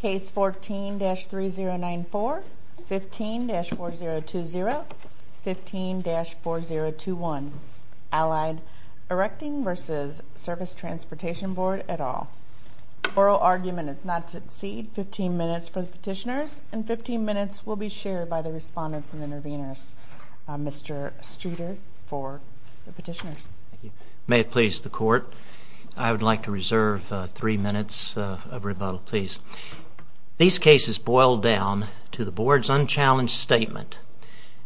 Case 14-3094, 15-4020, 15-4021, Allied Erecting v. Service Transportation Board et al. Oral argument is not to exceed 15 minutes for the petitioners, and 15 minutes will be shared by the respondents and interveners. Mr. Streeter for the petitioners. May it please the Court, I would like to reserve three minutes of rebuttal, please. These cases boil down to the Board's unchallenged statement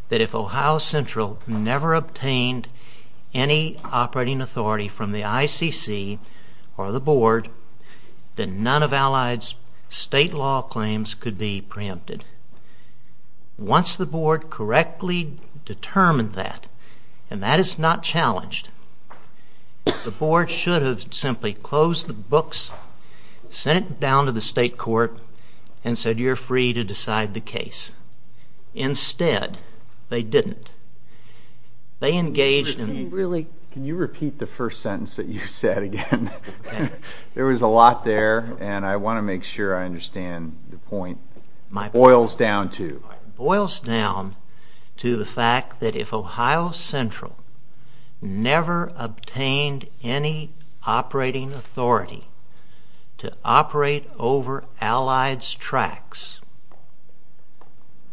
that if Ohio Central never obtained any operating authority from the ICC or the Board, then none of Allied's state law claims could be preempted. Once the Board correctly determined that, and that is not challenged, the Board should have simply closed the books, sent it down to the state court, and said you're free to decide the case. Instead, they didn't. They engaged in... Can you repeat the first sentence that you said again? There was a lot there, and I want to make sure I understand the point. Boils down to? Boils down to the fact that if Ohio Central never obtained any operating authority to operate over Allied's tracks,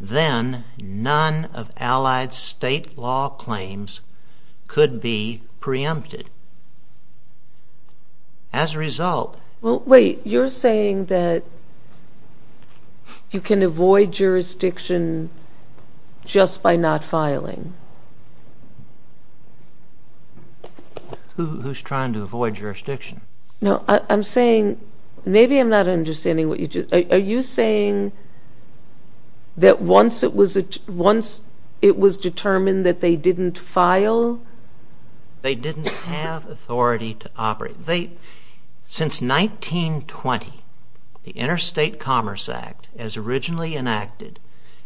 then none of Allied's state law claims could be preempted. As a result... Wait, you're saying that you can avoid jurisdiction just by not filing? Who's trying to avoid jurisdiction? No, I'm saying, maybe I'm not understanding what you just... Are you saying that once it was determined that they didn't file? They didn't have authority to operate. Since 1920, the Interstate Commerce Act, as originally enacted,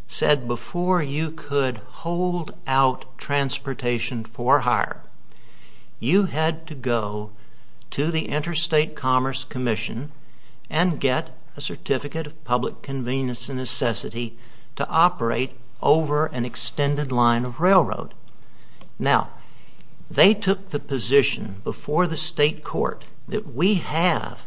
said before you could hold out transportation for hire, you had to go to the Interstate Commerce Commission and get a certificate of public convenience and necessity to operate over an extended line of railroad. Now, they took the position before the state court that we have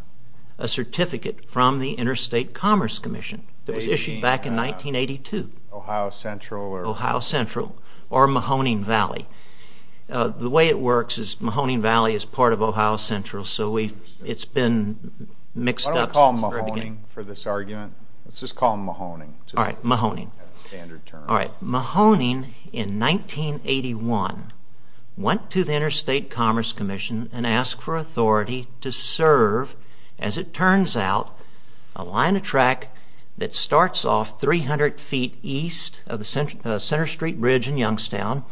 a certificate from the Interstate Commerce Commission that was issued back in 1982. Ohio Central? Ohio Central, or Mahoning Valley. The way it works is Mahoning Valley is part of Ohio Central, so it's been mixed up since the very beginning. Why don't we call them Mahoning for this argument? Let's just call them Mahoning. All right, Mahoning. Standard term. All right, Mahoning, in 1981, went to the Interstate Commerce Commission and asked for authority to serve, as it turns out, a line of track that starts off 300 feet east of the Center Street Bridge in Youngstown,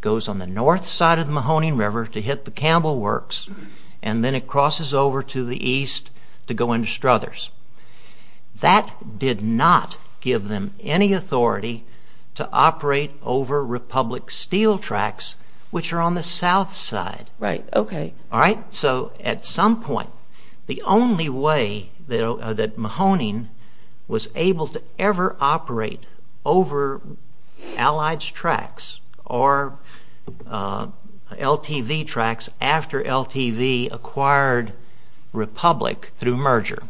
goes on the north side of the Mahoning River to hit the Campbell Works, and then it crosses over to the east to go into Struthers. That did not give them any authority to operate over Republic Steel tracks, which are on the south side. Right, okay. All right, so at some point, the only way that Mahoning was able to ever operate over Allied's tracks or LTV tracks after LTV acquired Republic through merger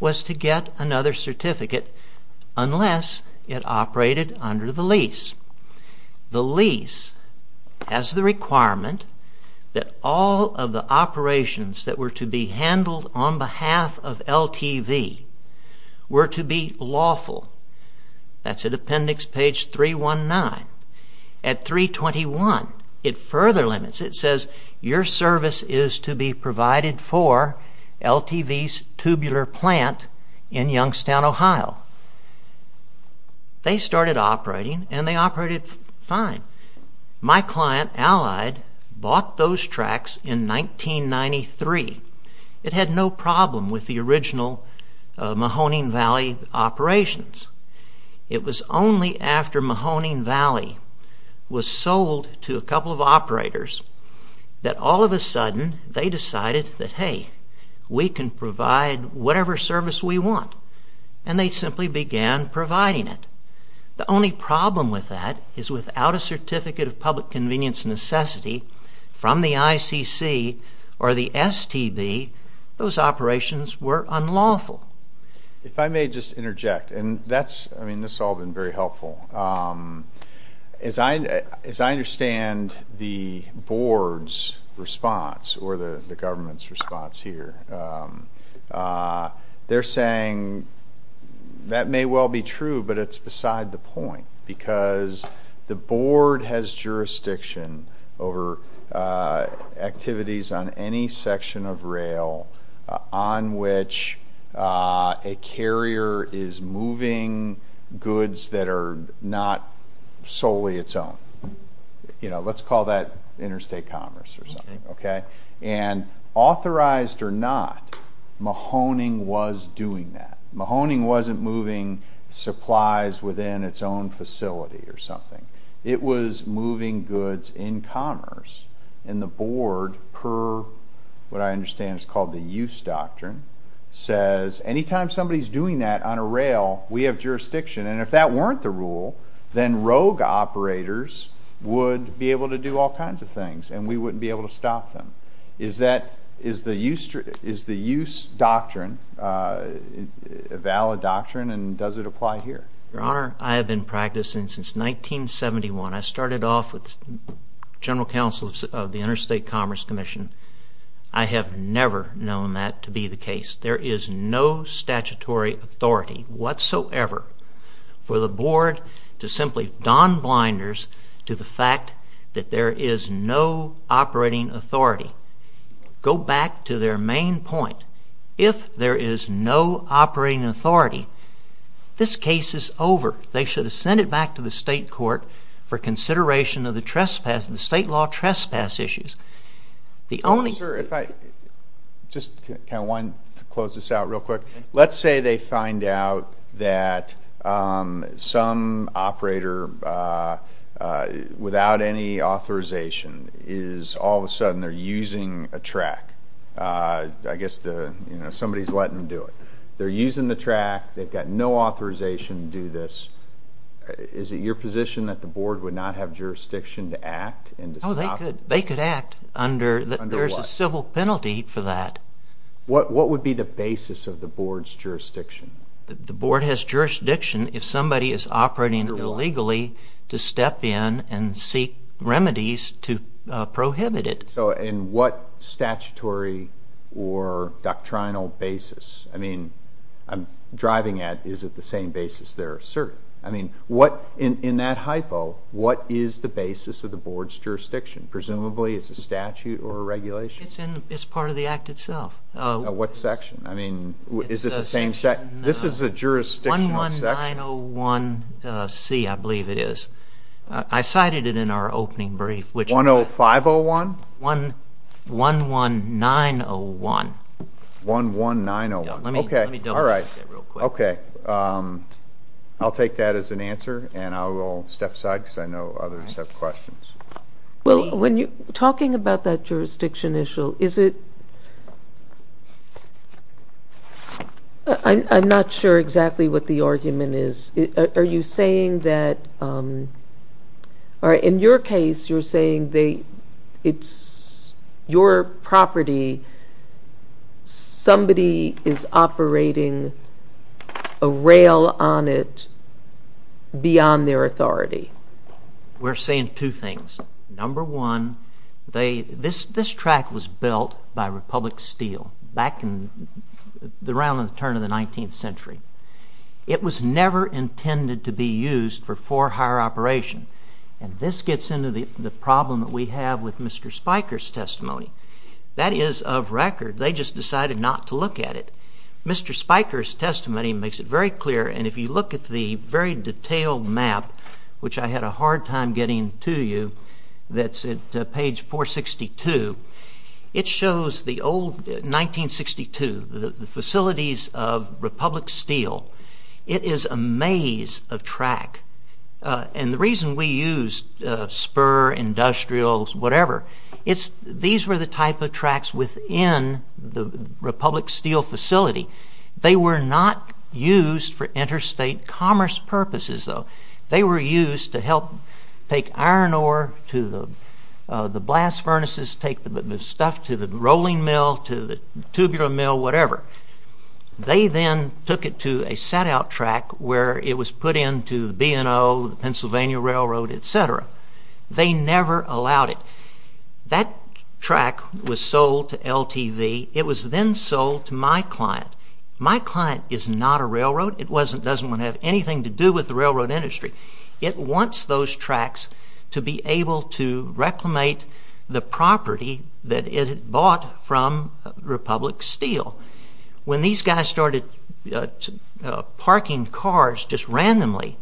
was to get another certificate unless it operated under the lease. The lease has the requirement that all of the operations that were to be handled on behalf of LTV were to be lawful. That's at appendix page 319. At 321, it further limits. It says, your service is to be provided for LTV's tubular plant in Youngstown, Ohio. They started operating, and they operated fine. My client, Allied, bought those tracks in 1993. It had no problem with the original Mahoning Valley operations. It was only after Mahoning Valley was sold to a couple of operators that all of a sudden, they decided that, hey, we can provide whatever service we want. And they simply began providing it. The only problem with that is without a certificate of public convenience necessity from the ICC or the STB, those operations were unlawful. If I may just interject, and that's, I mean, this has all been very helpful. As I understand the board's response or the government's response here, they're saying that may well be true, but it's beside the point solely its own. Let's call that interstate commerce or something. And authorized or not, Mahoning was doing that. Mahoning wasn't moving supplies within its own facility or something. It was moving goods in commerce. And the board, per what I understand is called the use doctrine, says anytime somebody's doing that on a rail, we have jurisdiction. And if that weren't the rule, then rogue operators would be able to do all kinds of things, and we wouldn't be able to stop them. Is the use doctrine a valid doctrine, and does it apply here? Your Honor, I have been practicing since 1971. I started off with general counsel of the Interstate Commerce Commission. I have never known that to be the case. There is no statutory authority whatsoever for the board to simply don blinders to the fact that there is no operating authority. Go back to their main point. If there is no operating authority, this case is over. They should have sent it back to the state court for consideration of the state law trespass issues. If I could just close this out real quick. Let's say they find out that some operator, without any authorization, is all of a sudden using a track. I guess somebody's letting them do it. They're using the track. They've got no authorization to do this. Is it your position that the board would not have jurisdiction to act? They could act. There is a civil penalty for that. What would be the basis of the board's jurisdiction? The board has jurisdiction if somebody is operating illegally to step in and seek remedies to prohibit it. What statutory or doctrinal basis? I'm driving at, is it the same basis they're asserting? In that hypo, what is the basis of the board's jurisdiction? Presumably it's a statute or a regulation? It's part of the act itself. What section? This is a jurisdictional section. 11901C, I believe it is. I cited it in our opening brief. 10501? 11901. 11901. Let me double-check that real quick. Okay. I'll take that as an answer, and I will step aside because I know others have questions. Talking about that jurisdiction issue, I'm not sure exactly what the argument is. Are you saying that, or in your case, you're saying it's your property, somebody is operating a rail on it beyond their authority? We're saying two things. Number one, this track was built by Republic Steel back around the turn of the 19th century. It was never intended to be used for for hire operation, and this gets into the problem that we have with Mr. Spiker's testimony. That is of record. They just decided not to look at it. Mr. Spiker's testimony makes it very clear, and if you look at the very detailed map, which I had a hard time getting to you, that's at page 462, it shows the old 1962, the facilities of Republic Steel. It is a maze of track, and the reason we used spur, industrials, whatever, these were the type of tracks within the Republic Steel facility. They were not used for interstate commerce purposes, though. They were used to help take iron ore to the blast furnaces, take the stuff to the rolling mill, to the tubular mill, whatever. They then took it to a set-out track where it was put into the B&O, the Pennsylvania Railroad, etc. They never allowed it. That track was sold to LTV. It was then sold to my client. My client is not a railroad. It doesn't want to have anything to do with the railroad industry. It wants those tracks to be able to reclimate the property that it had bought from Republic Steel. When these guys started parking cars just randomly,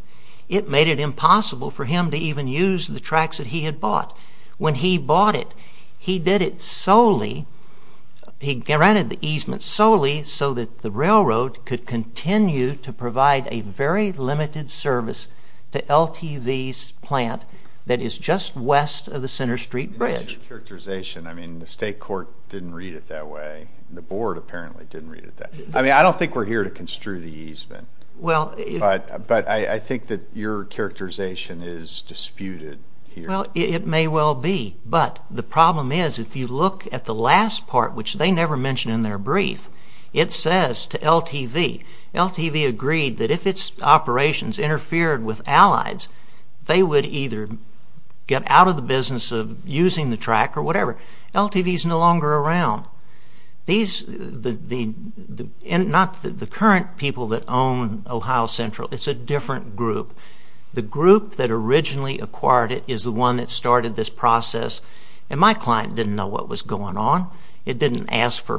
it made it impossible for him to even use the tracks that he had bought. When he bought it, he did it solely, he granted the easement solely so that the railroad could continue to provide a very limited service to LTV's plant that is just west of the Center Street Bridge. I mean, the state court didn't read it that way. The board apparently didn't read it that way. I mean, I don't think we're here to construe the easement. But I think that your characterization is disputed here. Well, it may well be. But the problem is, if you look at the last part, which they never mention in their brief, it says to LTV, LTV agreed that if its operations interfered with Allies, they would either get out of the business of using the track or whatever. LTV is no longer around. Not the current people that own Ohio Central. It's a different group. The group that originally acquired it is the one that started this process. And my client didn't know what was going on. It didn't ask for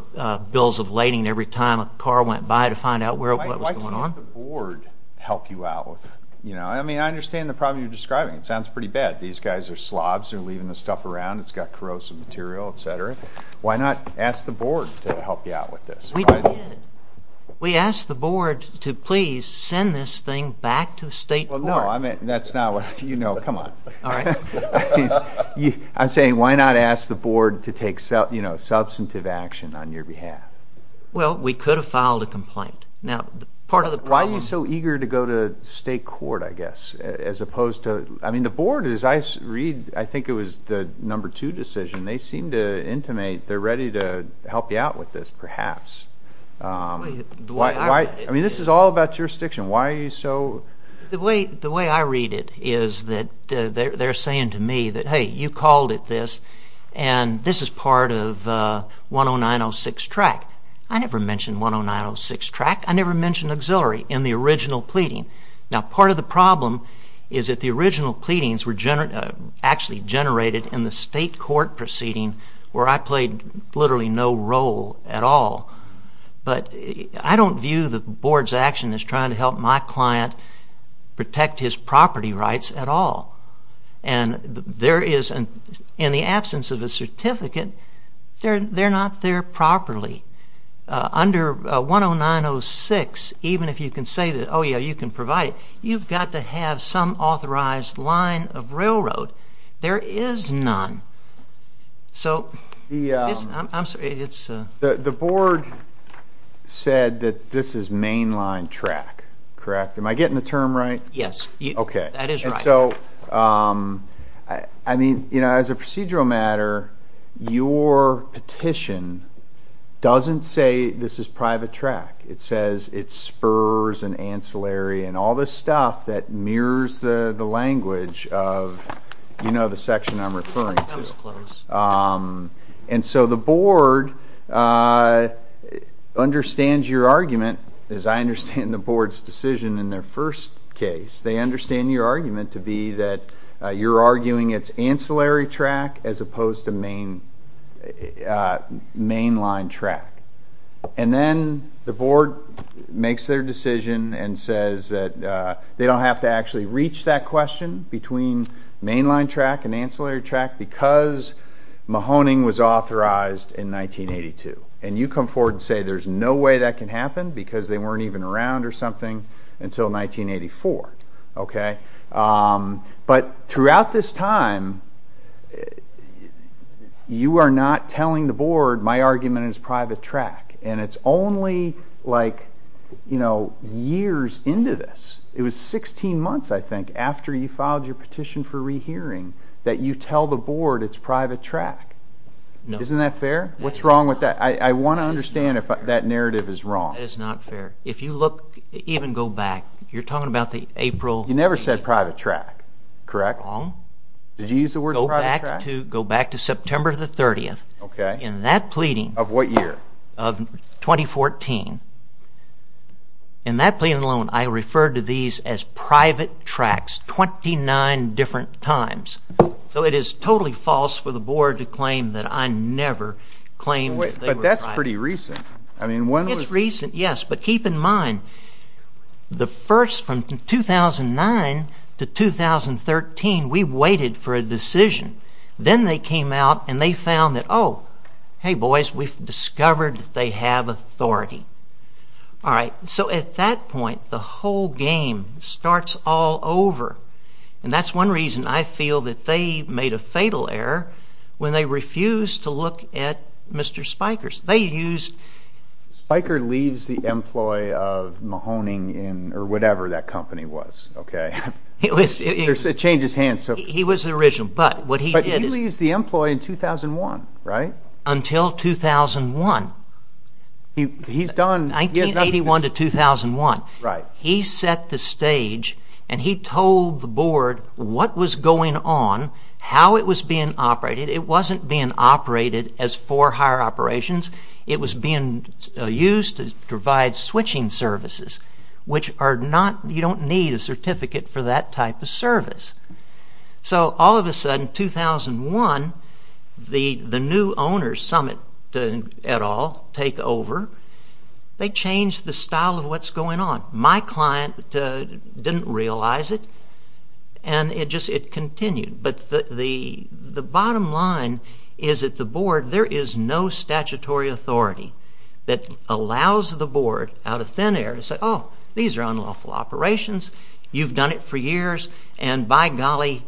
bills of lading every time a car went by to find out what was going on. Why can't the board help you out? I mean, I understand the problem you're describing. It sounds pretty bad. These guys are slobs. They're leaving this stuff around. It's got corrosive material, etc. Why not ask the board to help you out with this? We did. We asked the board to please send this thing back to the state court. Well, no. That's not what you know. Come on. All right. I'm saying, why not ask the board to take substantive action on your behalf? Well, we could have filed a complaint. Now, part of the problem... Why are you so eager to go to state court, I guess? As opposed to... I mean, the board, as I read, I think it was the number two decision. They seem to intimate they're ready to help you out with this, perhaps. I mean, this is all about jurisdiction. Why are you so... The way I read it is that they're saying to me that, hey, you called it this, and this is part of 10906 track. I never mentioned 10906 track. I never mentioned auxiliary in the original pleading. Now, part of the problem is that the original pleadings were actually generated in the state court proceeding where I played literally no role at all. But I don't view the board's action as trying to help my client protect his property rights at all. And there is, in the absence of a certificate, they're not there properly. Under 10906, even if you can say that, oh, yeah, you can provide it, you've got to have some authorized line of railroad. There is none. So, I'm sorry, it's... The board said that this is mainline track, correct? Am I getting the term right? Yes. Okay. That is right. I mean, as a procedural matter, your petition doesn't say this is private track. It says it's spurs and ancillary and all this stuff that mirrors the language of, you know, the section I'm referring to. That was close. And so the board understands your argument, as I understand the board's decision in their first case. They understand your argument to be that you're arguing it's ancillary track as opposed to mainline track. And then the board makes their decision and says that they don't have to actually reach that question between mainline track and ancillary track because Mahoning was authorized in 1982. And you come forward and say there's no way that can happen because they weren't even around or something until 1984, okay? But throughout this time, you are not telling the board, my argument is private track. And it's only, like, you know, years into this. It was 16 months, I think, after you filed your petition for rehearing that you tell the board it's private track. No. Isn't that fair? What's wrong with that? I want to understand if that narrative is wrong. That is not fair. If you look, even go back, you're talking about the April. You never said private track, correct? Wrong. Did you use the word private track? Go back to September the 30th. Okay. In that pleading. Of what year? Of 2014. In that pleading alone, I referred to these as private tracks 29 different times. So it is totally false for the board to claim that I never claimed they were private. But that's pretty recent. It's recent, yes, but keep in mind, the first from 2009 to 2013, we waited for a decision. Then they came out and they found that, oh, hey, boys, we've discovered they have authority. All right. So at that point, the whole game starts all over. And that's one reason I feel that they made a fatal error when they refused to look at Mr. Spiker's. They used... Spiker leaves the employ of Mahoning or whatever that company was, okay? It changes hands. He was the original. But what he did is... But he leaves the employ in 2001, right? Until 2001. He's done... 1981 to 2001. Right. He set the stage and he told the board what was going on, how it was being operated. It wasn't being operated as for hire operations. It was being used to provide switching services, which are not... You don't need a certificate for that type of service. So all of a sudden, 2001, the new owners, Summit et al., take over. They changed the style of what's going on. My client didn't realize it. And it just continued. But the bottom line is that the board, there is no statutory authority that allows the board out of thin air to say, oh, these are unlawful operations, you've done it for years, and by golly,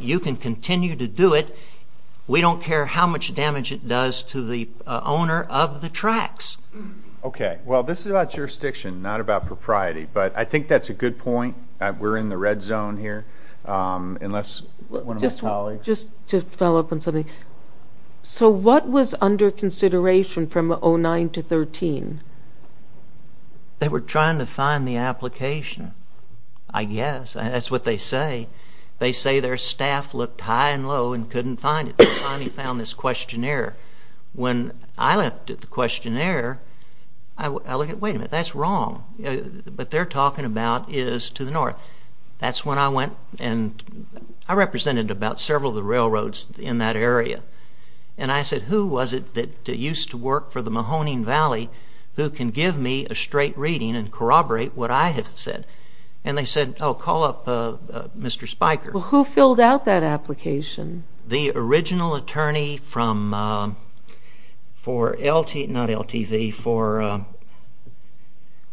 you can continue to do it. We don't care how much damage it does to the owner of the tracks. Okay. Well, this is about jurisdiction, not about propriety. But I think that's a good point. We're in the red zone here. Unless one of my colleagues... Just to follow up on something. So what was under consideration from 2009 to 2013? They were trying to find the application, I guess. That's what they say. They say their staff looked high and low and couldn't find it. They finally found this questionnaire. When I looked at the questionnaire, I looked at, wait a minute, that's wrong. What they're talking about is to the north. That's when I went and I represented about several of the railroads in that area. And I said, who was it that used to work for the Mahoning Valley who can give me a straight reading and corroborate what I have said? And they said, oh, call up Mr. Spiker. Well, who filled out that application? The original attorney for LTV, not LTV, for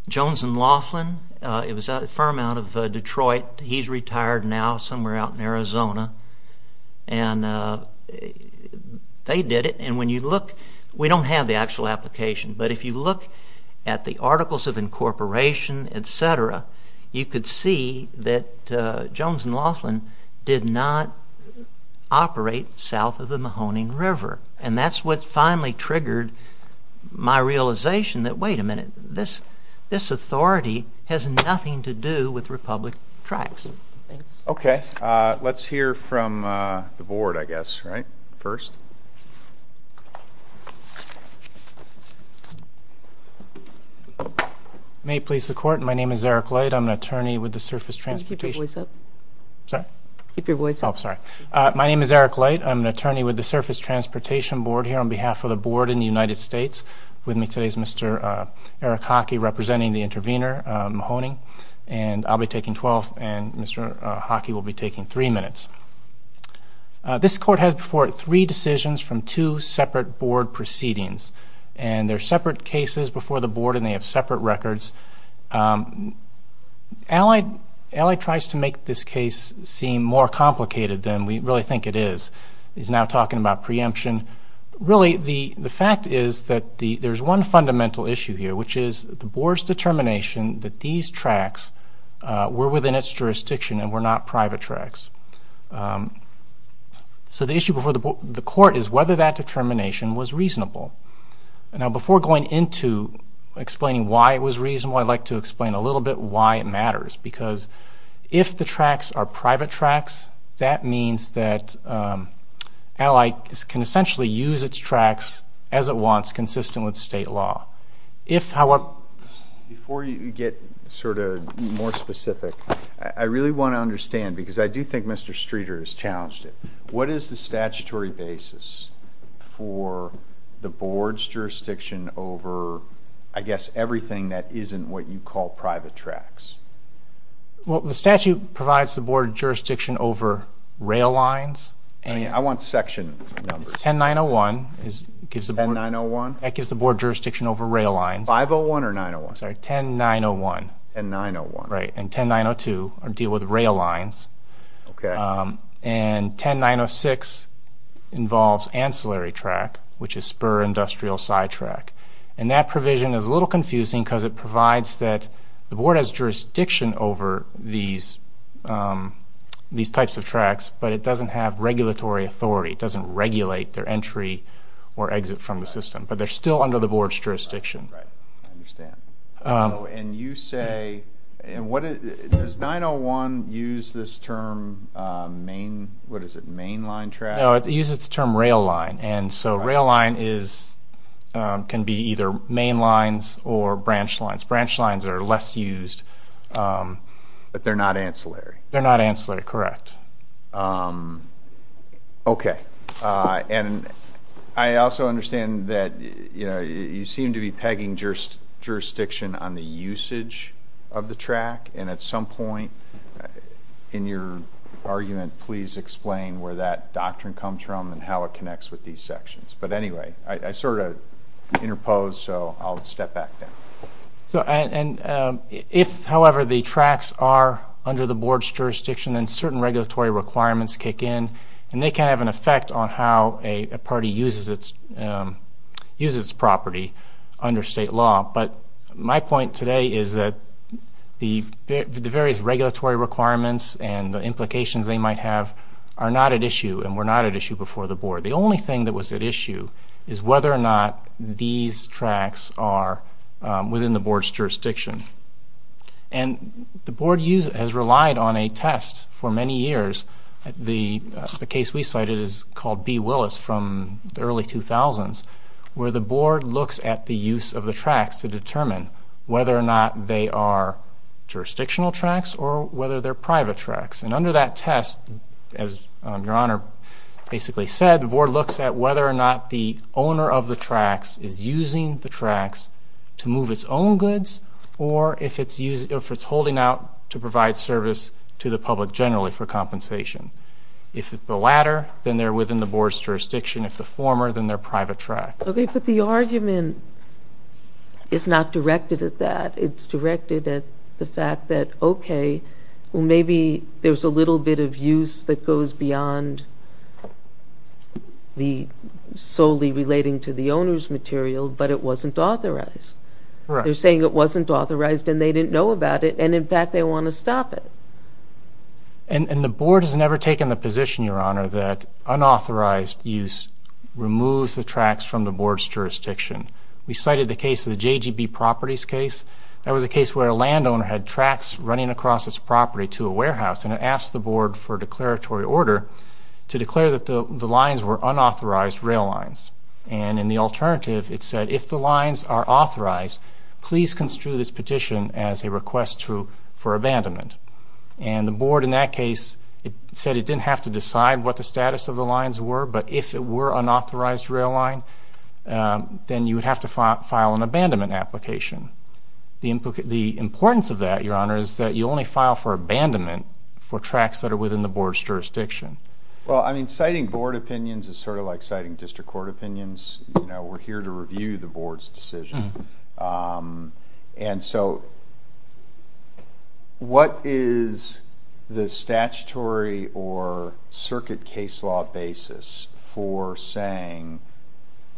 Jones and Laughlin. It was a firm out of Detroit. He's retired now somewhere out in Arizona. And they did it. And when you look, we don't have the actual application, but if you look at the articles of incorporation, et cetera, you could see that Jones and Laughlin did not operate south of the Mahoning River. And that's what finally triggered my realization that, wait a minute, this authority has nothing to do with Republic tracks. Okay. Let's hear from the Board, I guess, right, first. May it please the Court, my name is Eric Light. I'm an attorney with the Surface Transportation Board here on behalf of the Board in the United States. With me today is Mr. Eric Hockey, representing the intervener, Mahoning. And I'll be taking 12, and Mr. Hockey will be taking three minutes. This Court has before it three decisions from two separate Board proceedings. And they're separate cases before the Board, and they have separate records. Allied tries to make this case seem more complicated than we really think it is. He's now talking about preemption. Really, the fact is that there's one fundamental issue here, which is the Board's determination that these tracks were within its jurisdiction and were not private tracks. So the issue before the Court is whether that determination was reasonable. Now, before going into explaining why it was reasonable, if the tracks are private tracks, that means that Allied can essentially use its tracks as it wants, consistent with state law. If, however, before you get sort of more specific, I really want to understand, because I do think Mr. Streeter has challenged it, what is the statutory basis for the Board's jurisdiction over, I guess, everything that isn't what you call private tracks? Well, the statute provides the Board jurisdiction over rail lines. I mean, I want section numbers. It's 10901. 10901? That gives the Board jurisdiction over rail lines. 501 or 901? Sorry, 10901. 10901. Right, and 10902 deal with rail lines. Okay. And 10906 involves ancillary track, which is spur industrial sidetrack. And that provision is a little confusing because it provides that the Board has jurisdiction over these types of tracks, but it doesn't have regulatory authority. It doesn't regulate their entry or exit from the system, but they're still under the Board's jurisdiction. Right, I understand. And you say, does 901 use this term mainline track? No, it uses the term rail line. And so rail line can be either mainlines or branch lines. Branch lines are less used. But they're not ancillary. They're not ancillary, correct. Okay. And I also understand that you seem to be pegging jurisdiction on the usage of the track. And at some point in your argument, please explain where that doctrine comes from and how it connects with these sections. But anyway, I sort of interposed, so I'll step back then. And if, however, the tracks are under the Board's jurisdiction, then certain regulatory requirements kick in, and they can have an effect on how a party uses its property under state law. But my point today is that the various regulatory requirements and the implications they might have are not at issue and were not at issue before the Board. The only thing that was at issue is whether or not these tracks are within the Board's jurisdiction. And the Board has relied on a test for many years. The case we cited is called B. Willis from the early 2000s, where the Board looks at the use of the tracks to determine whether or not they are jurisdictional tracks or whether they're private tracks. And under that test, as Your Honor basically said, the Board looks at whether or not the owner of the tracks is using the tracks to move its own goods or if it's holding out to provide service to the public generally for compensation. If it's the latter, then they're within the Board's jurisdiction. If the former, then they're private track. Okay, but the argument is not directed at that. It's directed at the fact that, okay, maybe there's a little bit of use that goes beyond solely relating to the owner's material, but it wasn't authorized. They're saying it wasn't authorized and they didn't know about it, and in fact they want to stop it. And the Board has never taken the position, Your Honor, that unauthorized use removes the tracks from the Board's jurisdiction. We cited the case of the JGB Properties case. That was a case where a landowner had tracks running across his property to a warehouse, and it asked the Board for a declaratory order to declare that the lines were unauthorized rail lines. And in the alternative, it said if the lines are authorized, please construe this petition as a request for abandonment. And the Board in that case said it didn't have to decide what the status of the lines were, but if it were unauthorized rail line, then you would have to file an abandonment application. The importance of that, Your Honor, is that you only file for abandonment for tracks that are within the Board's jurisdiction. Well, I mean, citing Board opinions is sort of like citing District Court opinions. You know, we're here to review the Board's decision. And so what is the statutory or circuit case law basis for saying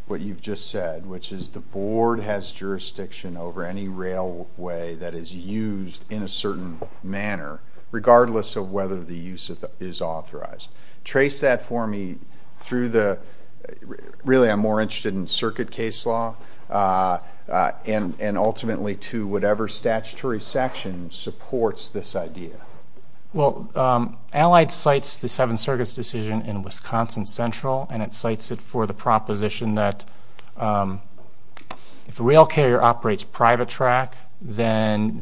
what you've just said, which is the Board has jurisdiction over any railway that is used in a certain manner, regardless of whether the use is authorized? Trace that for me through the, really I'm more interested in circuit case law, and ultimately to whatever statutory section supports this idea. Well, Allied cites the Seventh Circuit's decision in Wisconsin Central, and it cites it for the proposition that if a rail carrier operates private track, then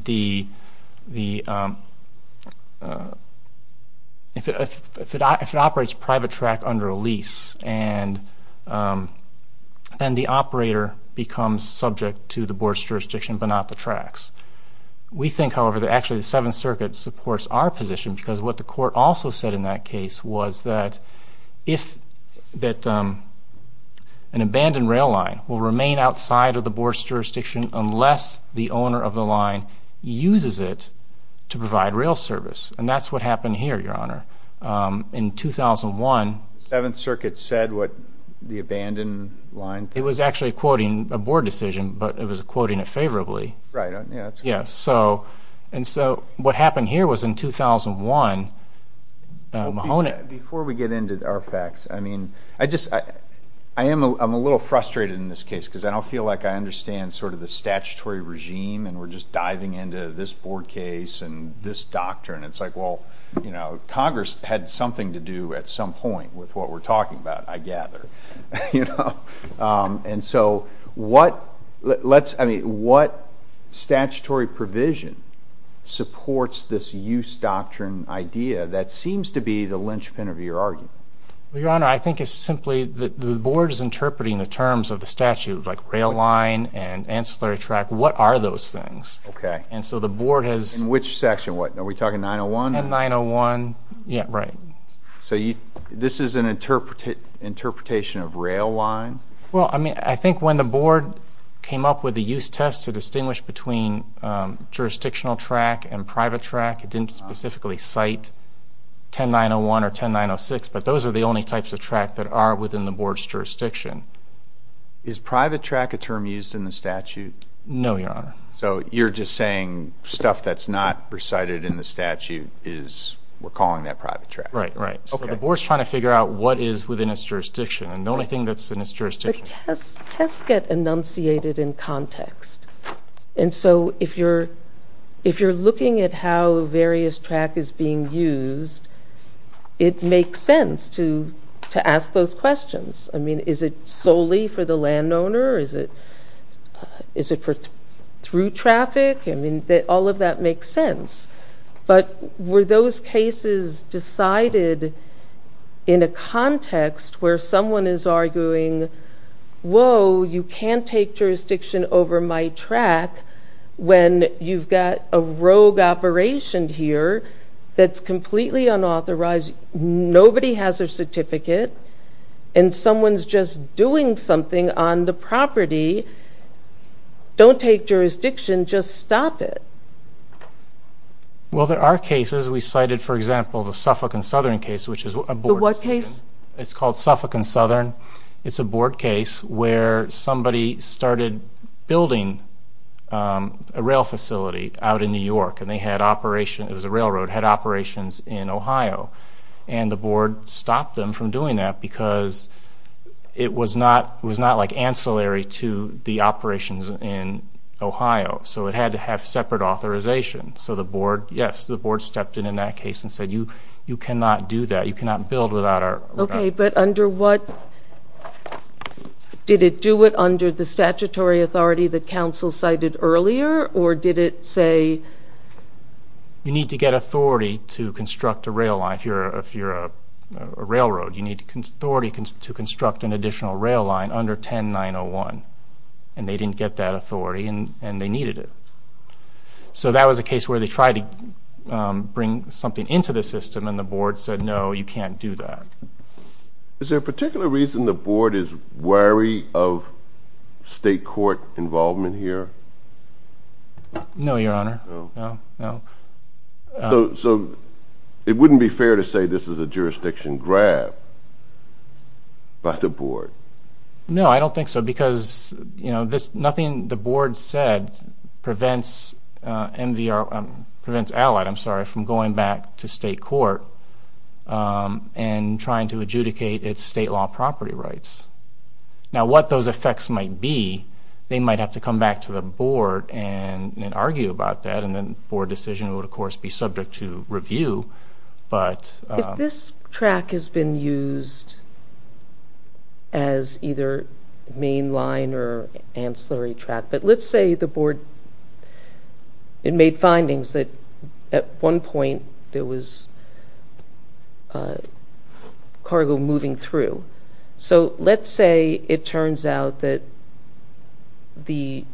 if it operates private track under a lease, then the operator becomes subject to the Board's jurisdiction but not the tracks. We think, however, that actually the Seventh Circuit supports our position because what the Court also said in that case was that if an abandoned rail line will remain outside of the Board's jurisdiction unless the owner of the line uses it to provide rail service. And that's what happened here, Your Honor. In 2001... The Seventh Circuit said what the abandoned line... It was actually quoting a Board decision, but it was quoting it favorably. Right, yeah. Yeah, and so what happened here was in 2001 Mahoney... Because I don't feel like I understand sort of the statutory regime, and we're just diving into this Board case and this doctrine. It's like, well, Congress had something to do at some point with what we're talking about, I gather. And so what statutory provision supports this use doctrine idea that seems to be the linchpin of your argument? Well, Your Honor, I think it's simply that the Board is interpreting the terms of the statute, like rail line and ancillary track, what are those things? Okay. And so the Board has... In which section, what? Are we talking 901? In 901, yeah, right. So this is an interpretation of rail line? Well, I mean, I think when the Board came up with the use test to distinguish between jurisdictional track and private track, it didn't specifically cite 10901 or 10906, but those are the only types of track that are within the Board's jurisdiction. Is private track a term used in the statute? No, Your Honor. So you're just saying stuff that's not recited in the statute, we're calling that private track? Right, right. Okay. So the Board's trying to figure out what is within its jurisdiction, and the only thing that's in its jurisdiction... The tests get enunciated in context. And so if you're looking at how various track is being used, it makes sense to ask those questions. I mean, is it solely for the landowner? Is it through traffic? I mean, all of that makes sense. But were those cases decided in a context where someone is arguing, whoa, you can't take jurisdiction over my track when you've got a rogue operation here that's completely unauthorized, nobody has their certificate, and someone's just doing something on the property. Don't take jurisdiction, just stop it. Well, there are cases. We cited, for example, the Suffolk and Southern case, which is a Board decision. The what case? It's called Suffolk and Southern. It's a Board case where somebody started building a rail facility out in New York, and they had operation, it was a railroad, had operations in Ohio. And the Board stopped them from doing that because it was not like ancillary to the operations in Ohio. So it had to have separate authorization. So the Board, yes, the Board stepped in in that case and said, you cannot do that, you cannot build without our... Okay, but under what? Did it do it under the statutory authority that counsel cited earlier, or did it say... You need to get authority to construct a rail line if you're a railroad. You need authority to construct an additional rail line under 10901. And they didn't get that authority, and they needed it. So that was a case where they tried to bring something into the system, and the Board said, no, you can't do that. Is there a particular reason the Board is wary of state court involvement here? No, Your Honor. So it wouldn't be fair to say this is a jurisdiction grab by the Board? No, I don't think so, because nothing the Board said prevents allied, I'm sorry, from going back to state court and trying to adjudicate its state law property rights. Now, what those effects might be, they might have to come back to the Board and argue about that, and then the Board decision would, of course, be subject to review. If this track has been used as either main line or ancillary track, but let's say the Board made findings that at one point there was cargo moving through. So let's say it turns out that the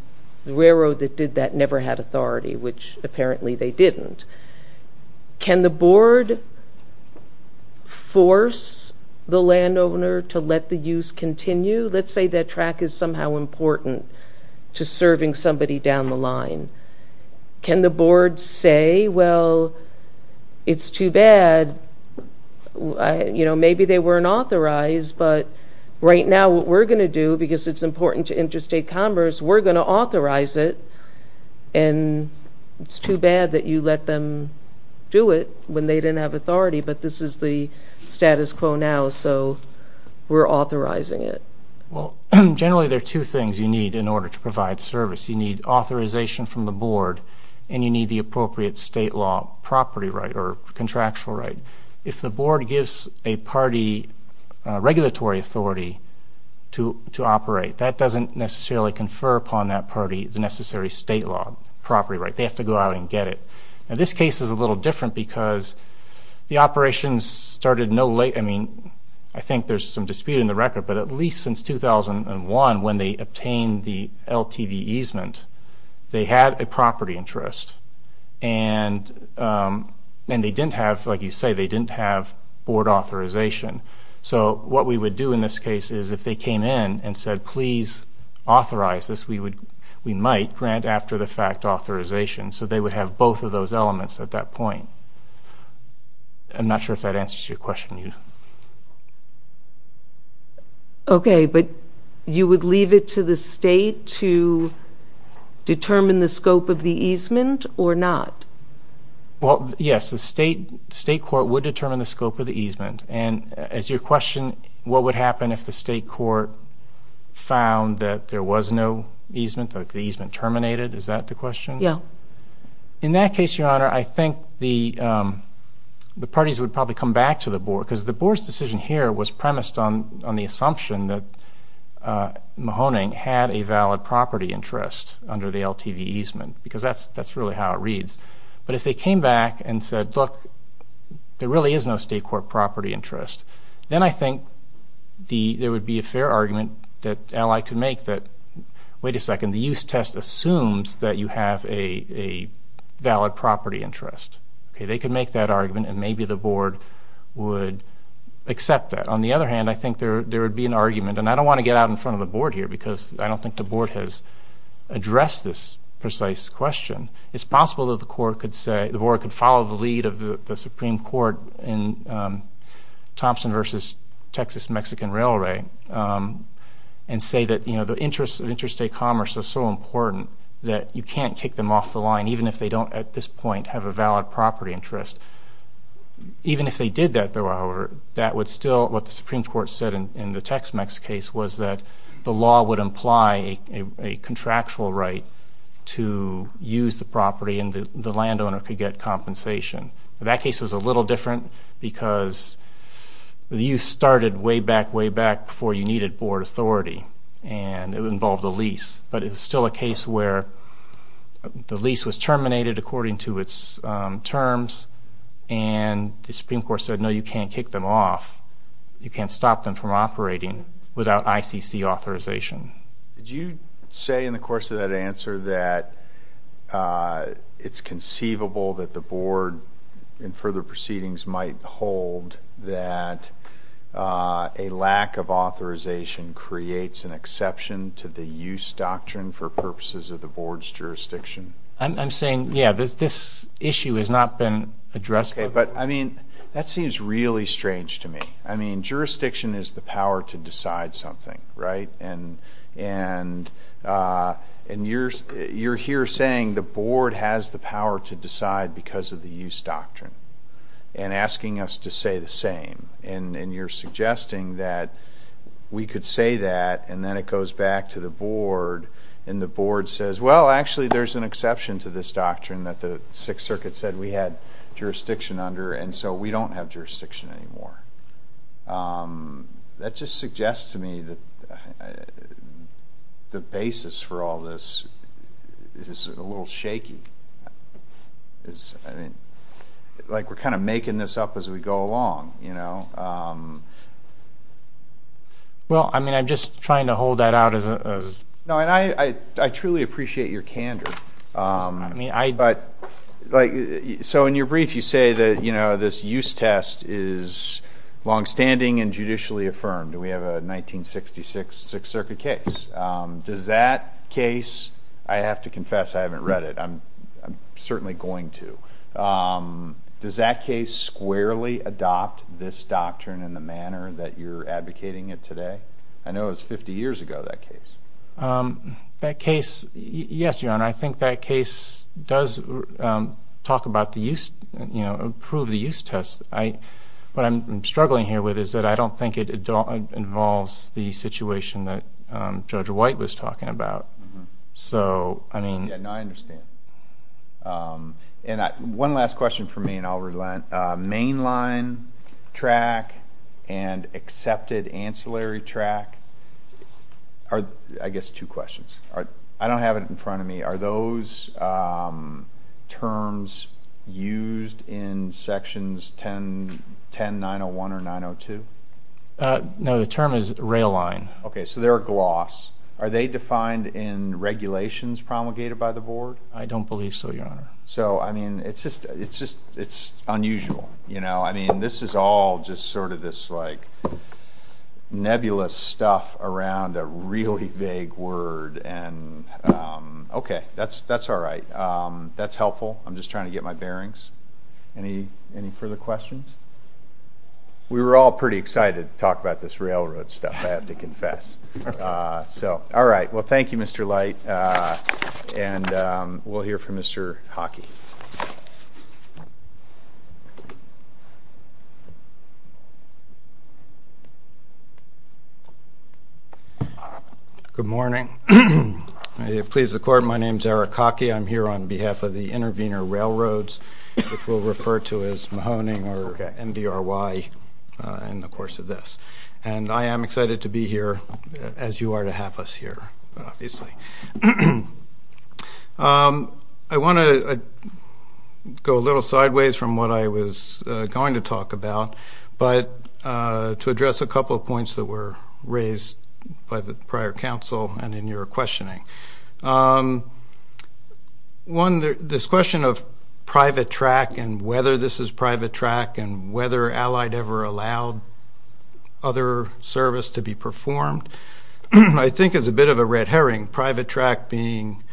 railroad that did that never had authority, which apparently they didn't. Can the Board force the landowner to let the use continue? Let's say that track is somehow important to serving somebody down the line. Can the Board say, well, it's too bad, you know, maybe they weren't authorized, but right now what we're going to do, because it's important to interstate commerce, we're going to authorize it, and it's too bad that you let them do it when they didn't have authority, but this is the status quo now, so we're authorizing it. Well, generally there are two things you need in order to provide service. You need authorization from the Board, and you need the appropriate state law property right or contractual right. If the Board gives a party regulatory authority to operate, that doesn't necessarily confer upon that party the necessary state law property right. They have to go out and get it. Now, this case is a little different because the operations started no later. I mean, I think there's some dispute in the record, but at least since 2001, when they obtained the LTV easement, they had a property interest, and they didn't have, like you say, they didn't have Board authorization. So what we would do in this case is if they came in and said, please authorize this, we might grant after-the-fact authorization, so they would have both of those elements at that point. I'm not sure if that answers your question. Okay, but you would leave it to the state to determine the scope of the easement or not? Well, yes, the state court would determine the scope of the easement, and as your question, what would happen if the state court found that there was no easement, like the easement terminated, is that the question? Yeah. In that case, Your Honor, I think the parties would probably come back to the Board because the Board's decision here was premised on the assumption that Mahoning had a valid property interest under the LTV easement because that's really how it reads. But if they came back and said, look, there really is no state court property interest, then I think there would be a fair argument that Ally could make that, wait a second, the use test assumes that you have a valid property interest. They could make that argument, and maybe the Board would accept that. On the other hand, I think there would be an argument, and I don't want to get out in front of the Board here because I don't think the Board has addressed this precise question. It's possible that the Board could follow the lead of the Supreme Court in Thompson v. Texas-Mexican Railway and say that the interests of interstate commerce are so important that you can't kick them off the line, even if they don't at this point have a valid property interest. Even if they did that, though, however, that would still, what the Supreme Court said in the Tex-Mex case was that the law would imply a contractual right to use the property and the landowner could get compensation. That case was a little different because the use started way back, way back before you needed Board authority, and it involved a lease, but it was still a case where the lease was terminated according to its terms, and the Supreme Court said, no, you can't kick them off. You can't stop them from operating without ICC authorization. Did you say in the course of that answer that it's conceivable that the Board, in further proceedings, might hold that a lack of authorization creates an exception to the use doctrine for purposes of the Board's jurisdiction? I'm saying, yeah, this issue has not been addressed. Okay, but, I mean, that seems really strange to me. I mean, jurisdiction is the power to decide something, right? And you're here saying the Board has the power to decide because of the use doctrine. And asking us to say the same. And you're suggesting that we could say that, and then it goes back to the Board, and the Board says, well, actually, there's an exception to this doctrine that the Sixth Circuit said we had jurisdiction under, and so we don't have jurisdiction anymore. That just suggests to me that the basis for all this is a little shaky. I mean, like we're kind of making this up as we go along, you know? Well, I mean, I'm just trying to hold that out as a... No, and I truly appreciate your candor. I mean, I... But, like, so in your brief you say that, you know, this use test is longstanding and judicially affirmed, and we have a 1966 Sixth Circuit case. Does that case, I have to confess I haven't read it. I'm certainly going to. Does that case squarely adopt this doctrine in the manner that you're advocating it today? I know it was 50 years ago, that case. That case, yes, Your Honor. I think that case does talk about the use, you know, approve the use test. What I'm struggling here with is that I don't think it involves the situation that Judge White was talking about. So, I mean... Yeah, no, I understand. And one last question for me, and I'll relent. Mainline track and accepted ancillary track are, I guess, two questions. I don't have it in front of me. Are those terms used in Sections 10-901 or 902? No, the term is rail line. Okay, so they're a gloss. Are they defined in regulations promulgated by the Board? I don't believe so, Your Honor. So, I mean, it's just unusual. You know, I mean, this is all just sort of this, like, nebulous stuff around a really vague word. Okay, that's all right. That's helpful. I'm just trying to get my bearings. Any further questions? We were all pretty excited to talk about this railroad stuff, I have to confess. So, all right, well, thank you, Mr. Light, and we'll hear from Mr. Hockey. Thank you. Good morning. May it please the Court, my name is Eric Hockey. I'm here on behalf of the Intervenor Railroads, which we'll refer to as Mahoning or MVRY in the course of this. And I am excited to be here, as you are to have us here, obviously. I want to go a little sideways from what I was going to talk about, but to address a couple of points that were raised by the prior counsel and in your questioning. One, this question of private track and whether this is private track and whether Allied ever allowed other service to be performed, I think is a bit of a red herring. Private track being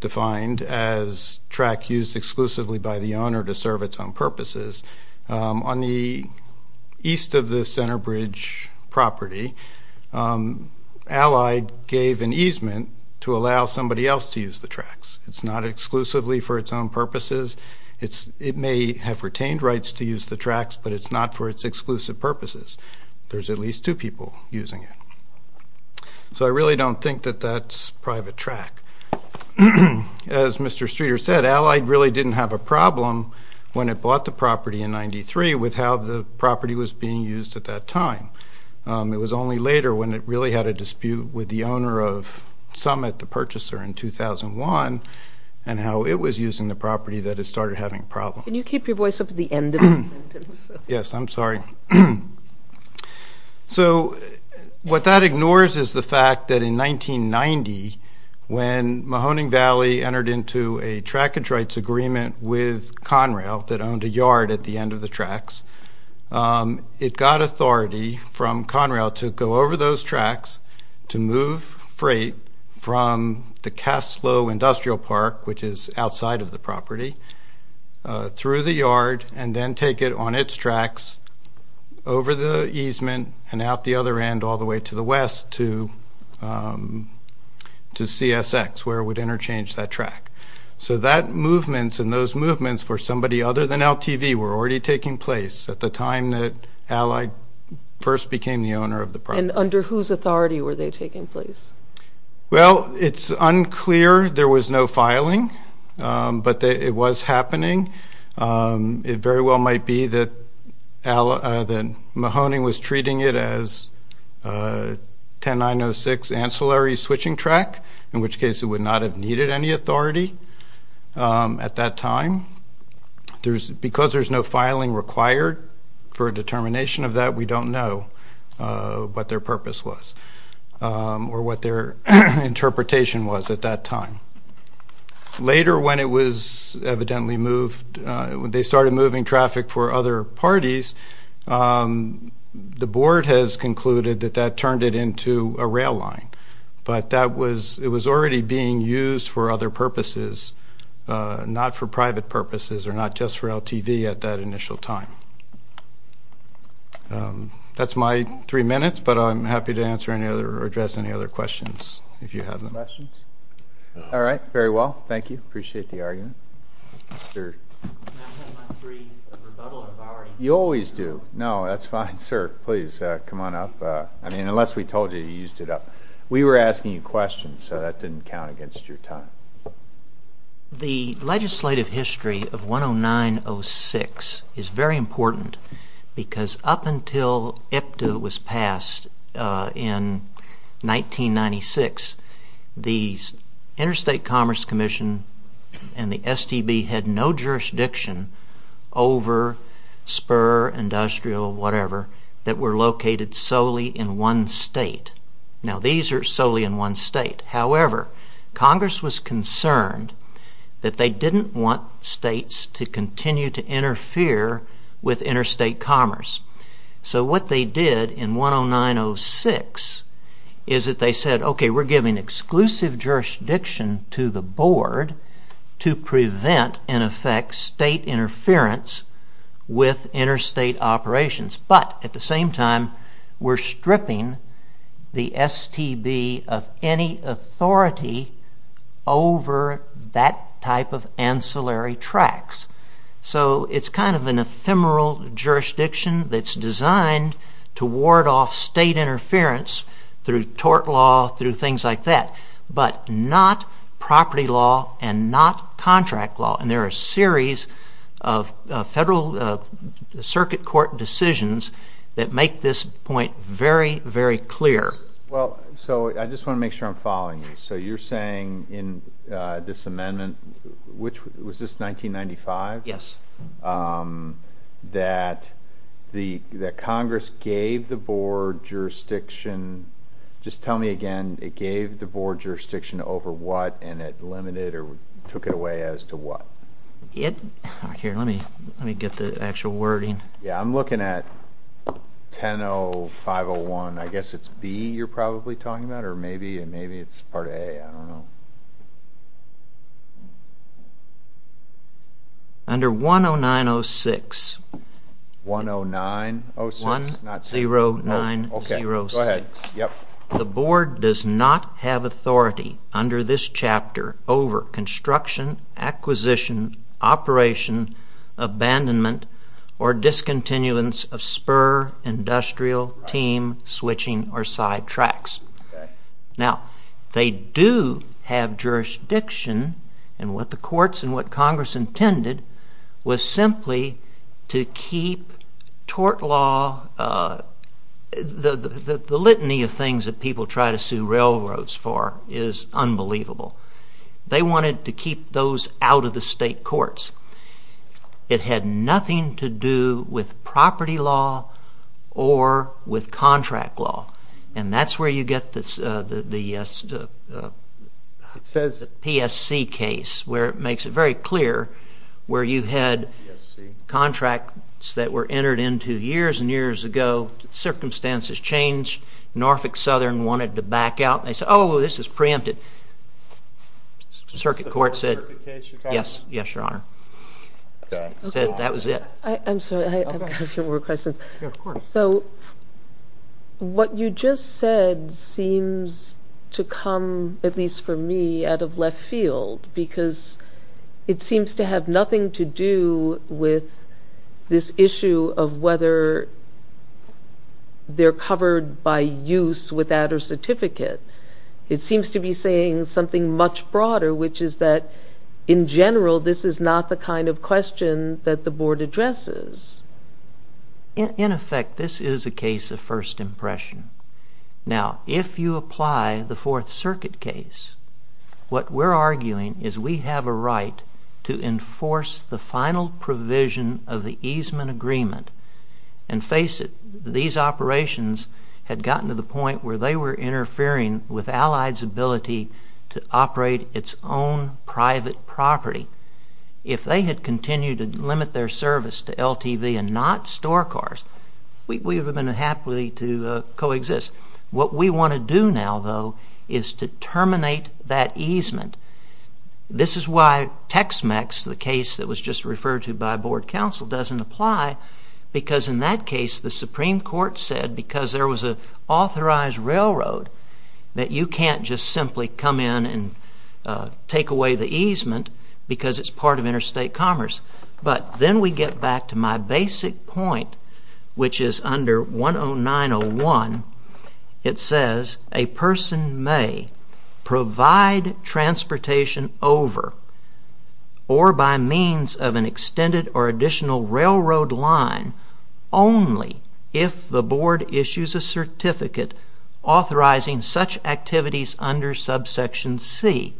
defined as track used exclusively by the owner to serve its own purposes, on the east of the Center Bridge property, Allied gave an easement to allow somebody else to use the tracks. It's not exclusively for its own purposes. It may have retained rights to use the tracks, but it's not for its exclusive purposes. There's at least two people using it. So I really don't think that that's private track. As Mr. Streeter said, Allied really didn't have a problem when it bought the property in 93 with how the property was being used at that time. It was only later when it really had a dispute with the owner of Summit, the purchaser, in 2001, and how it was using the property that it started having problems. Can you keep your voice up at the end of the sentence? Yes, I'm sorry. So what that ignores is the fact that in 1990, when Mahoning Valley entered into a trackage rights agreement with Conrail that owned a yard at the end of the tracks, it got authority from Conrail to go over those tracks to move freight from the Caslo Industrial Park, which is outside of the property, through the yard, and then take it on its tracks over the easement and out the other end all the way to the west to CSX, where it would interchange that track. So that movement and those movements for somebody other than LTV were already taking place at the time that Allied first became the owner of the property. And under whose authority were they taking place? Well, it's unclear. There was no filing, but it was happening. It very well might be that Mahoning was treating it as 10-906 ancillary switching track, in which case it would not have needed any authority at that time. Because there's no filing required for a determination of that, we don't know what their purpose was or what their interpretation was at that time. Later, when it was evidently moved, when they started moving traffic for other parties, the board has concluded that that turned it into a rail line. But it was already being used for other purposes, not for private purposes or not just for LTV at that initial time. That's my three minutes, but I'm happy to address any other questions if you have them. Questions? All right. Very well. Thank you. Appreciate the argument. You always do. No, that's fine, sir. Please, come on up. I mean, unless we told you you used it up. We were asking you questions, so that didn't count against your time. The legislative history of 10-906 is very important because up until IPTA was passed in 1996, the Interstate Commerce Commission and the STB had no jurisdiction over spur, industrial, whatever, that were located solely in one state. Now, these are solely in one state. However, Congress was concerned that they didn't want states to continue to interfere with interstate commerce. So what they did in 10-906 is that they said, okay, we're giving exclusive jurisdiction to the board to prevent, in effect, state interference with interstate operations. But at the same time, we're stripping the STB of any authority over that type of ancillary tracks. So it's kind of an ephemeral jurisdiction that's designed to ward off state interference through tort law, through things like that, but not property law and not contract law. And there are a series of Federal Circuit Court decisions that make this point very, very clear. Well, so I just want to make sure I'm following you. So you're saying in this amendment, was this 1995? Yes. That Congress gave the board jurisdiction. Just tell me again, it gave the board jurisdiction over what and it limited or took it away as to what? Here, let me get the actual wording. Yeah, I'm looking at 10-0501. I guess it's B you're probably talking about, or maybe it's part A. I don't know. Under 10906, the board does not have authority under this chapter over construction, acquisition, operation, abandonment, or discontinuance of spur, industrial, team, switching, or side tracks. Now, they do have jurisdiction in what the courts and what Congress intended was simply to keep tort law. The litany of things that people try to sue railroads for is unbelievable. They wanted to keep those out of the state courts. It had nothing to do with property law or with contract law, and that's where you get the PSC case where it makes it very clear where you had contracts that were entered into years and years ago. Circumstances changed. Norfolk Southern wanted to back out. They said, oh, this is preempted. Circuit court said, yes, Your Honor. Said that was it. I have a few more questions. Yeah, of course. So what you just said seems to come, at least for me, out of left field because it seems to have nothing to do with this issue of whether they're covered by use without a certificate. It seems to be saying something much broader, which is that, in general, this is not the kind of question that the board addresses. In effect, this is a case of first impression. Now, if you apply the Fourth Circuit case, what we're arguing is we have a right to enforce the final provision of the easement agreement. And face it, these operations had gotten to the point where they were interfering with Allied's ability to operate its own private property. If they had continued to limit their service to LTV and not store cars, we would have been happy to coexist. What we want to do now, though, is to terminate that easement. This is why Tex-Mex, the case that was just referred to by board counsel, doesn't apply because, in that case, the Supreme Court said, because there was an authorized railroad, that you can't just simply come in and take away the easement because it's part of interstate commerce. But then we get back to my basic point, which is under 10901. It says, a person may provide transportation over or by means of an extended or additional railroad line only if the board issues a certificate authorizing such activities under subsection C.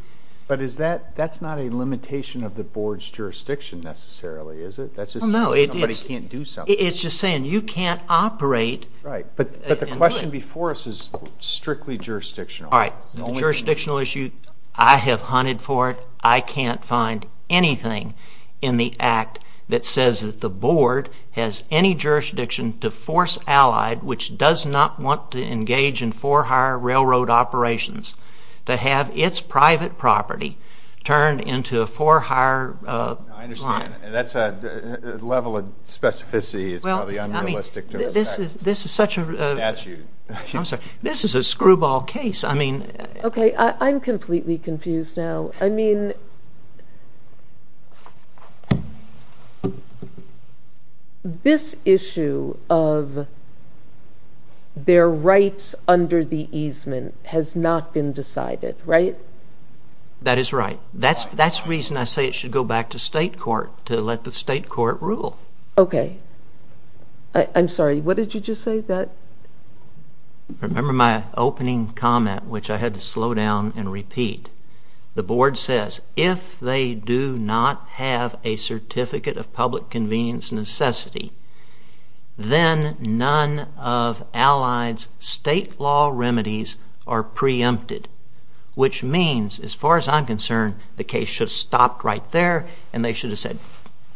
But that's not a limitation of the board's jurisdiction necessarily, is it? No, it is. Somebody can't do something. It's just saying you can't operate. Right. But the question before us is strictly jurisdictional. All right. The jurisdictional issue, I have hunted for it. I can't find anything in the Act that says that the board has any jurisdiction to force Allied, which does not want to engage in for-hire railroad operations, to have its private property turned into a for-hire line. I understand. That's a level of specificity that's probably unrealistic to respect. Well, I mean, this is such a— It's a statute. I'm sorry. This is a screwball case. I mean— Okay. I'm completely confused now. I mean, this issue of their rights under the easement has not been decided, right? That is right. That's the reason I say it should go back to state court to let the state court rule. Okay. I'm sorry. What did you just say? Remember my opening comment, which I had to slow down and repeat? The board says if they do not have a certificate of public convenience necessity, then none of Allied's state law remedies are preempted, which means, as far as I'm concerned, the case should have stopped right there and they should have said,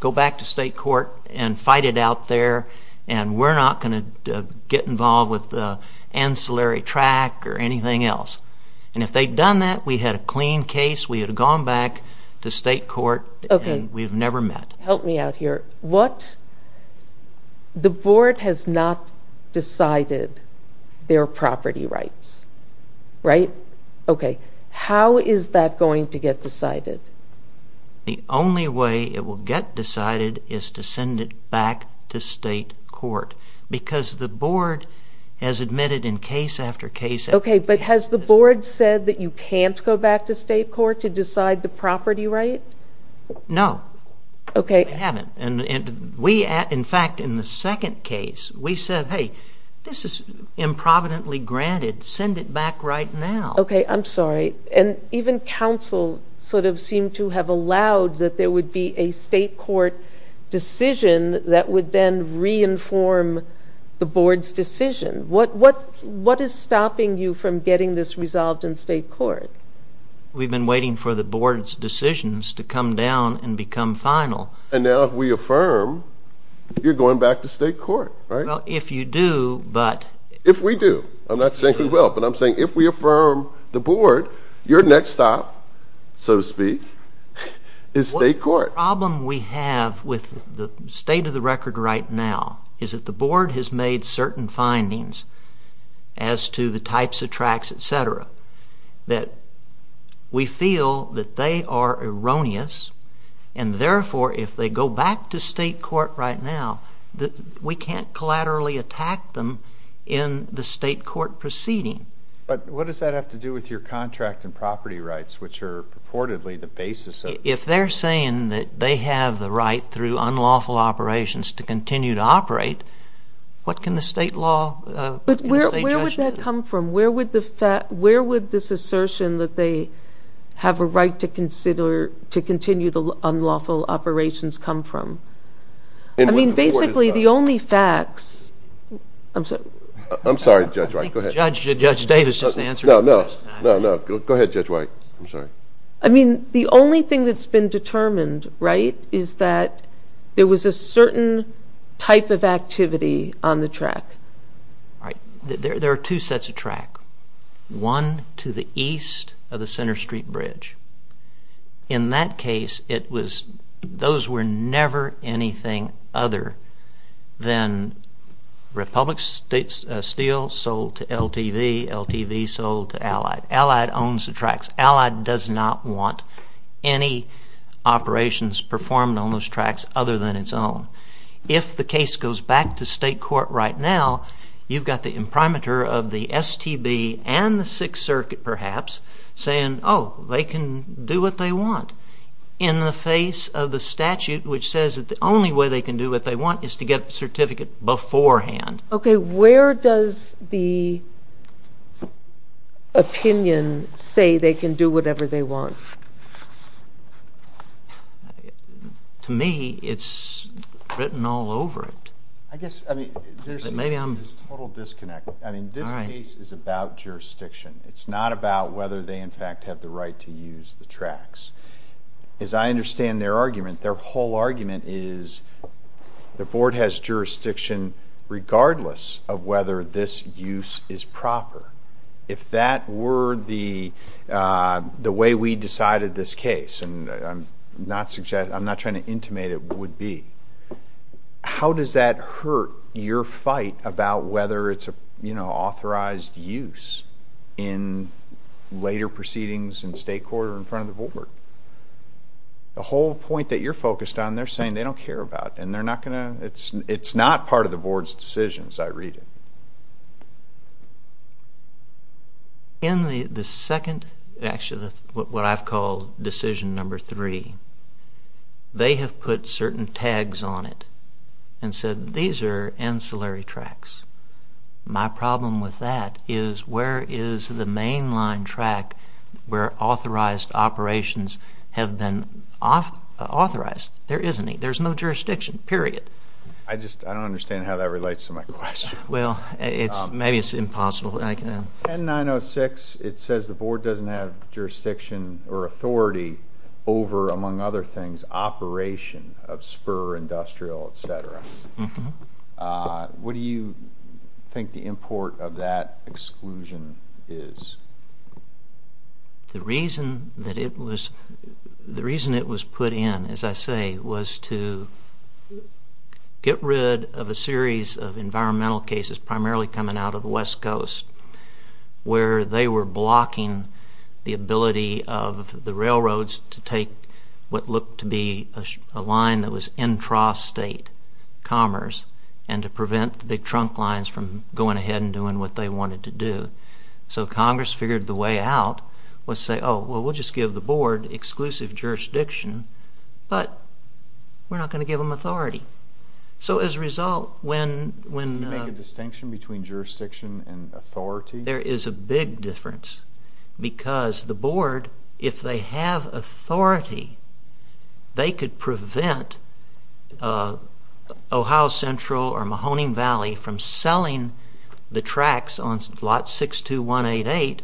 go back to state court and fight it out there and we're not going to get involved with the ancillary track or anything else. And if they'd done that, we had a clean case. We had gone back to state court and we've never met. Help me out here. What—the board has not decided their property rights, right? Okay. How is that going to get decided? The only way it will get decided is to send it back to state court because the board has admitted in case after case— Okay. But has the board said that you can't go back to state court to decide the property right? No. Okay. They haven't. And we, in fact, in the second case, we said, hey, this is improvidently granted. Send it back right now. Okay. I'm sorry. And even counsel sort of seemed to have allowed that there would be a state court decision that would then re-inform the board's decision. What is stopping you from getting this resolved in state court? We've been waiting for the board's decisions to come down and become final. And now if we affirm, you're going back to state court, right? Well, if you do, but— If we do. I'm not saying we will, but I'm saying if we affirm the board, your next stop, so to speak, is state court. The problem we have with the state of the record right now is that the board has made certain findings as to the types of tracts, et cetera, that we feel that they are erroneous. And therefore, if they go back to state court right now, we can't collaterally attack them in the state court proceeding. But what does that have to do with your contract and property rights, which are purportedly the basis of— If they're saying that they have the right through unlawful operations to continue to operate, what can the state law— But where would that come from? Where would this assertion that they have a right to continue the unlawful operations come from? I mean, basically, the only facts— I'm sorry. I'm sorry, Judge White. Go ahead. No, no. Go ahead, Judge White. I'm sorry. I mean, the only thing that's been determined, right, is that there was a certain type of activity on the tract. All right. There are two sets of tract, one to the east of the Center Street Bridge. In that case, those were never anything other than Republic Steel sold to LTV, LTV sold to Allied. Allied owns the tracts. Allied does not want any operations performed on those tracts other than its own. If the case goes back to state court right now, you've got the imprimatur of the STB and the Sixth Circuit, perhaps, saying, oh, they can do what they want, in the face of the statute which says that the only way they can do what they want is to get a certificate beforehand. Okay, where does the opinion say they can do whatever they want? To me, it's written all over it. I guess, I mean, there's this total disconnect. I mean, this case is about jurisdiction. It's not about whether they, in fact, have the right to use the tracts. As I understand their argument, their whole argument is the board has jurisdiction regardless of whether this use is proper. If that were the way we decided this case, and I'm not trying to intimate it would be, how does that hurt your fight about whether it's an authorized use in later proceedings in state court or in front of the board? The whole point that you're focused on, they're saying they don't care about, and they're not going to, it's not part of the board's decisions, I read it. In the second, actually, what I've called decision number three, they have put certain tags on it and said these are ancillary tracts. My problem with that is where is the mainline tract where authorized operations have been authorized? There isn't any. There's no jurisdiction, period. I don't understand how that relates to my question. Well, maybe it's impossible. 10906, it says the board doesn't have jurisdiction or authority over, among other things, operation of spur, industrial, et cetera. What do you think the import of that exclusion is? The reason it was put in, as I say, was to get rid of a series of environmental cases primarily coming out of the West Coast where they were blocking the ability of the railroads to take what looked to be a line that was intrastate commerce and to prevent the big trunk lines from going ahead and doing what they wanted to do. So Congress figured the way out was to say, oh, well, we'll just give the board exclusive jurisdiction, but we're not going to give them authority. So as a result, when— Did you make a distinction between jurisdiction and authority? There is a big difference because the board, if they have authority, they could prevent Ohio Central or Mahoning Valley from selling the tracks on lot 62188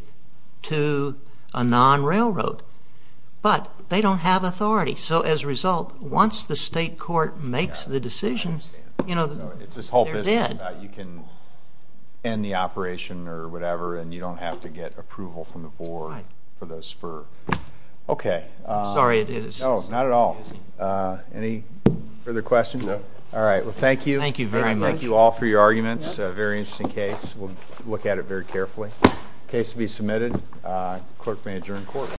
to a non-railroad. But they don't have authority. So as a result, once the state court makes the decision, they're dead. It's this whole business about you can end the operation or whatever and you don't have to get approval from the board for the spur. Okay. I'm sorry. No, not at all. Any further questions? No. All right. Well, thank you. Thank you very much. Thank you all for your arguments. A very interesting case. We'll look at it very carefully. Case to be submitted. Clerk may adjourn court.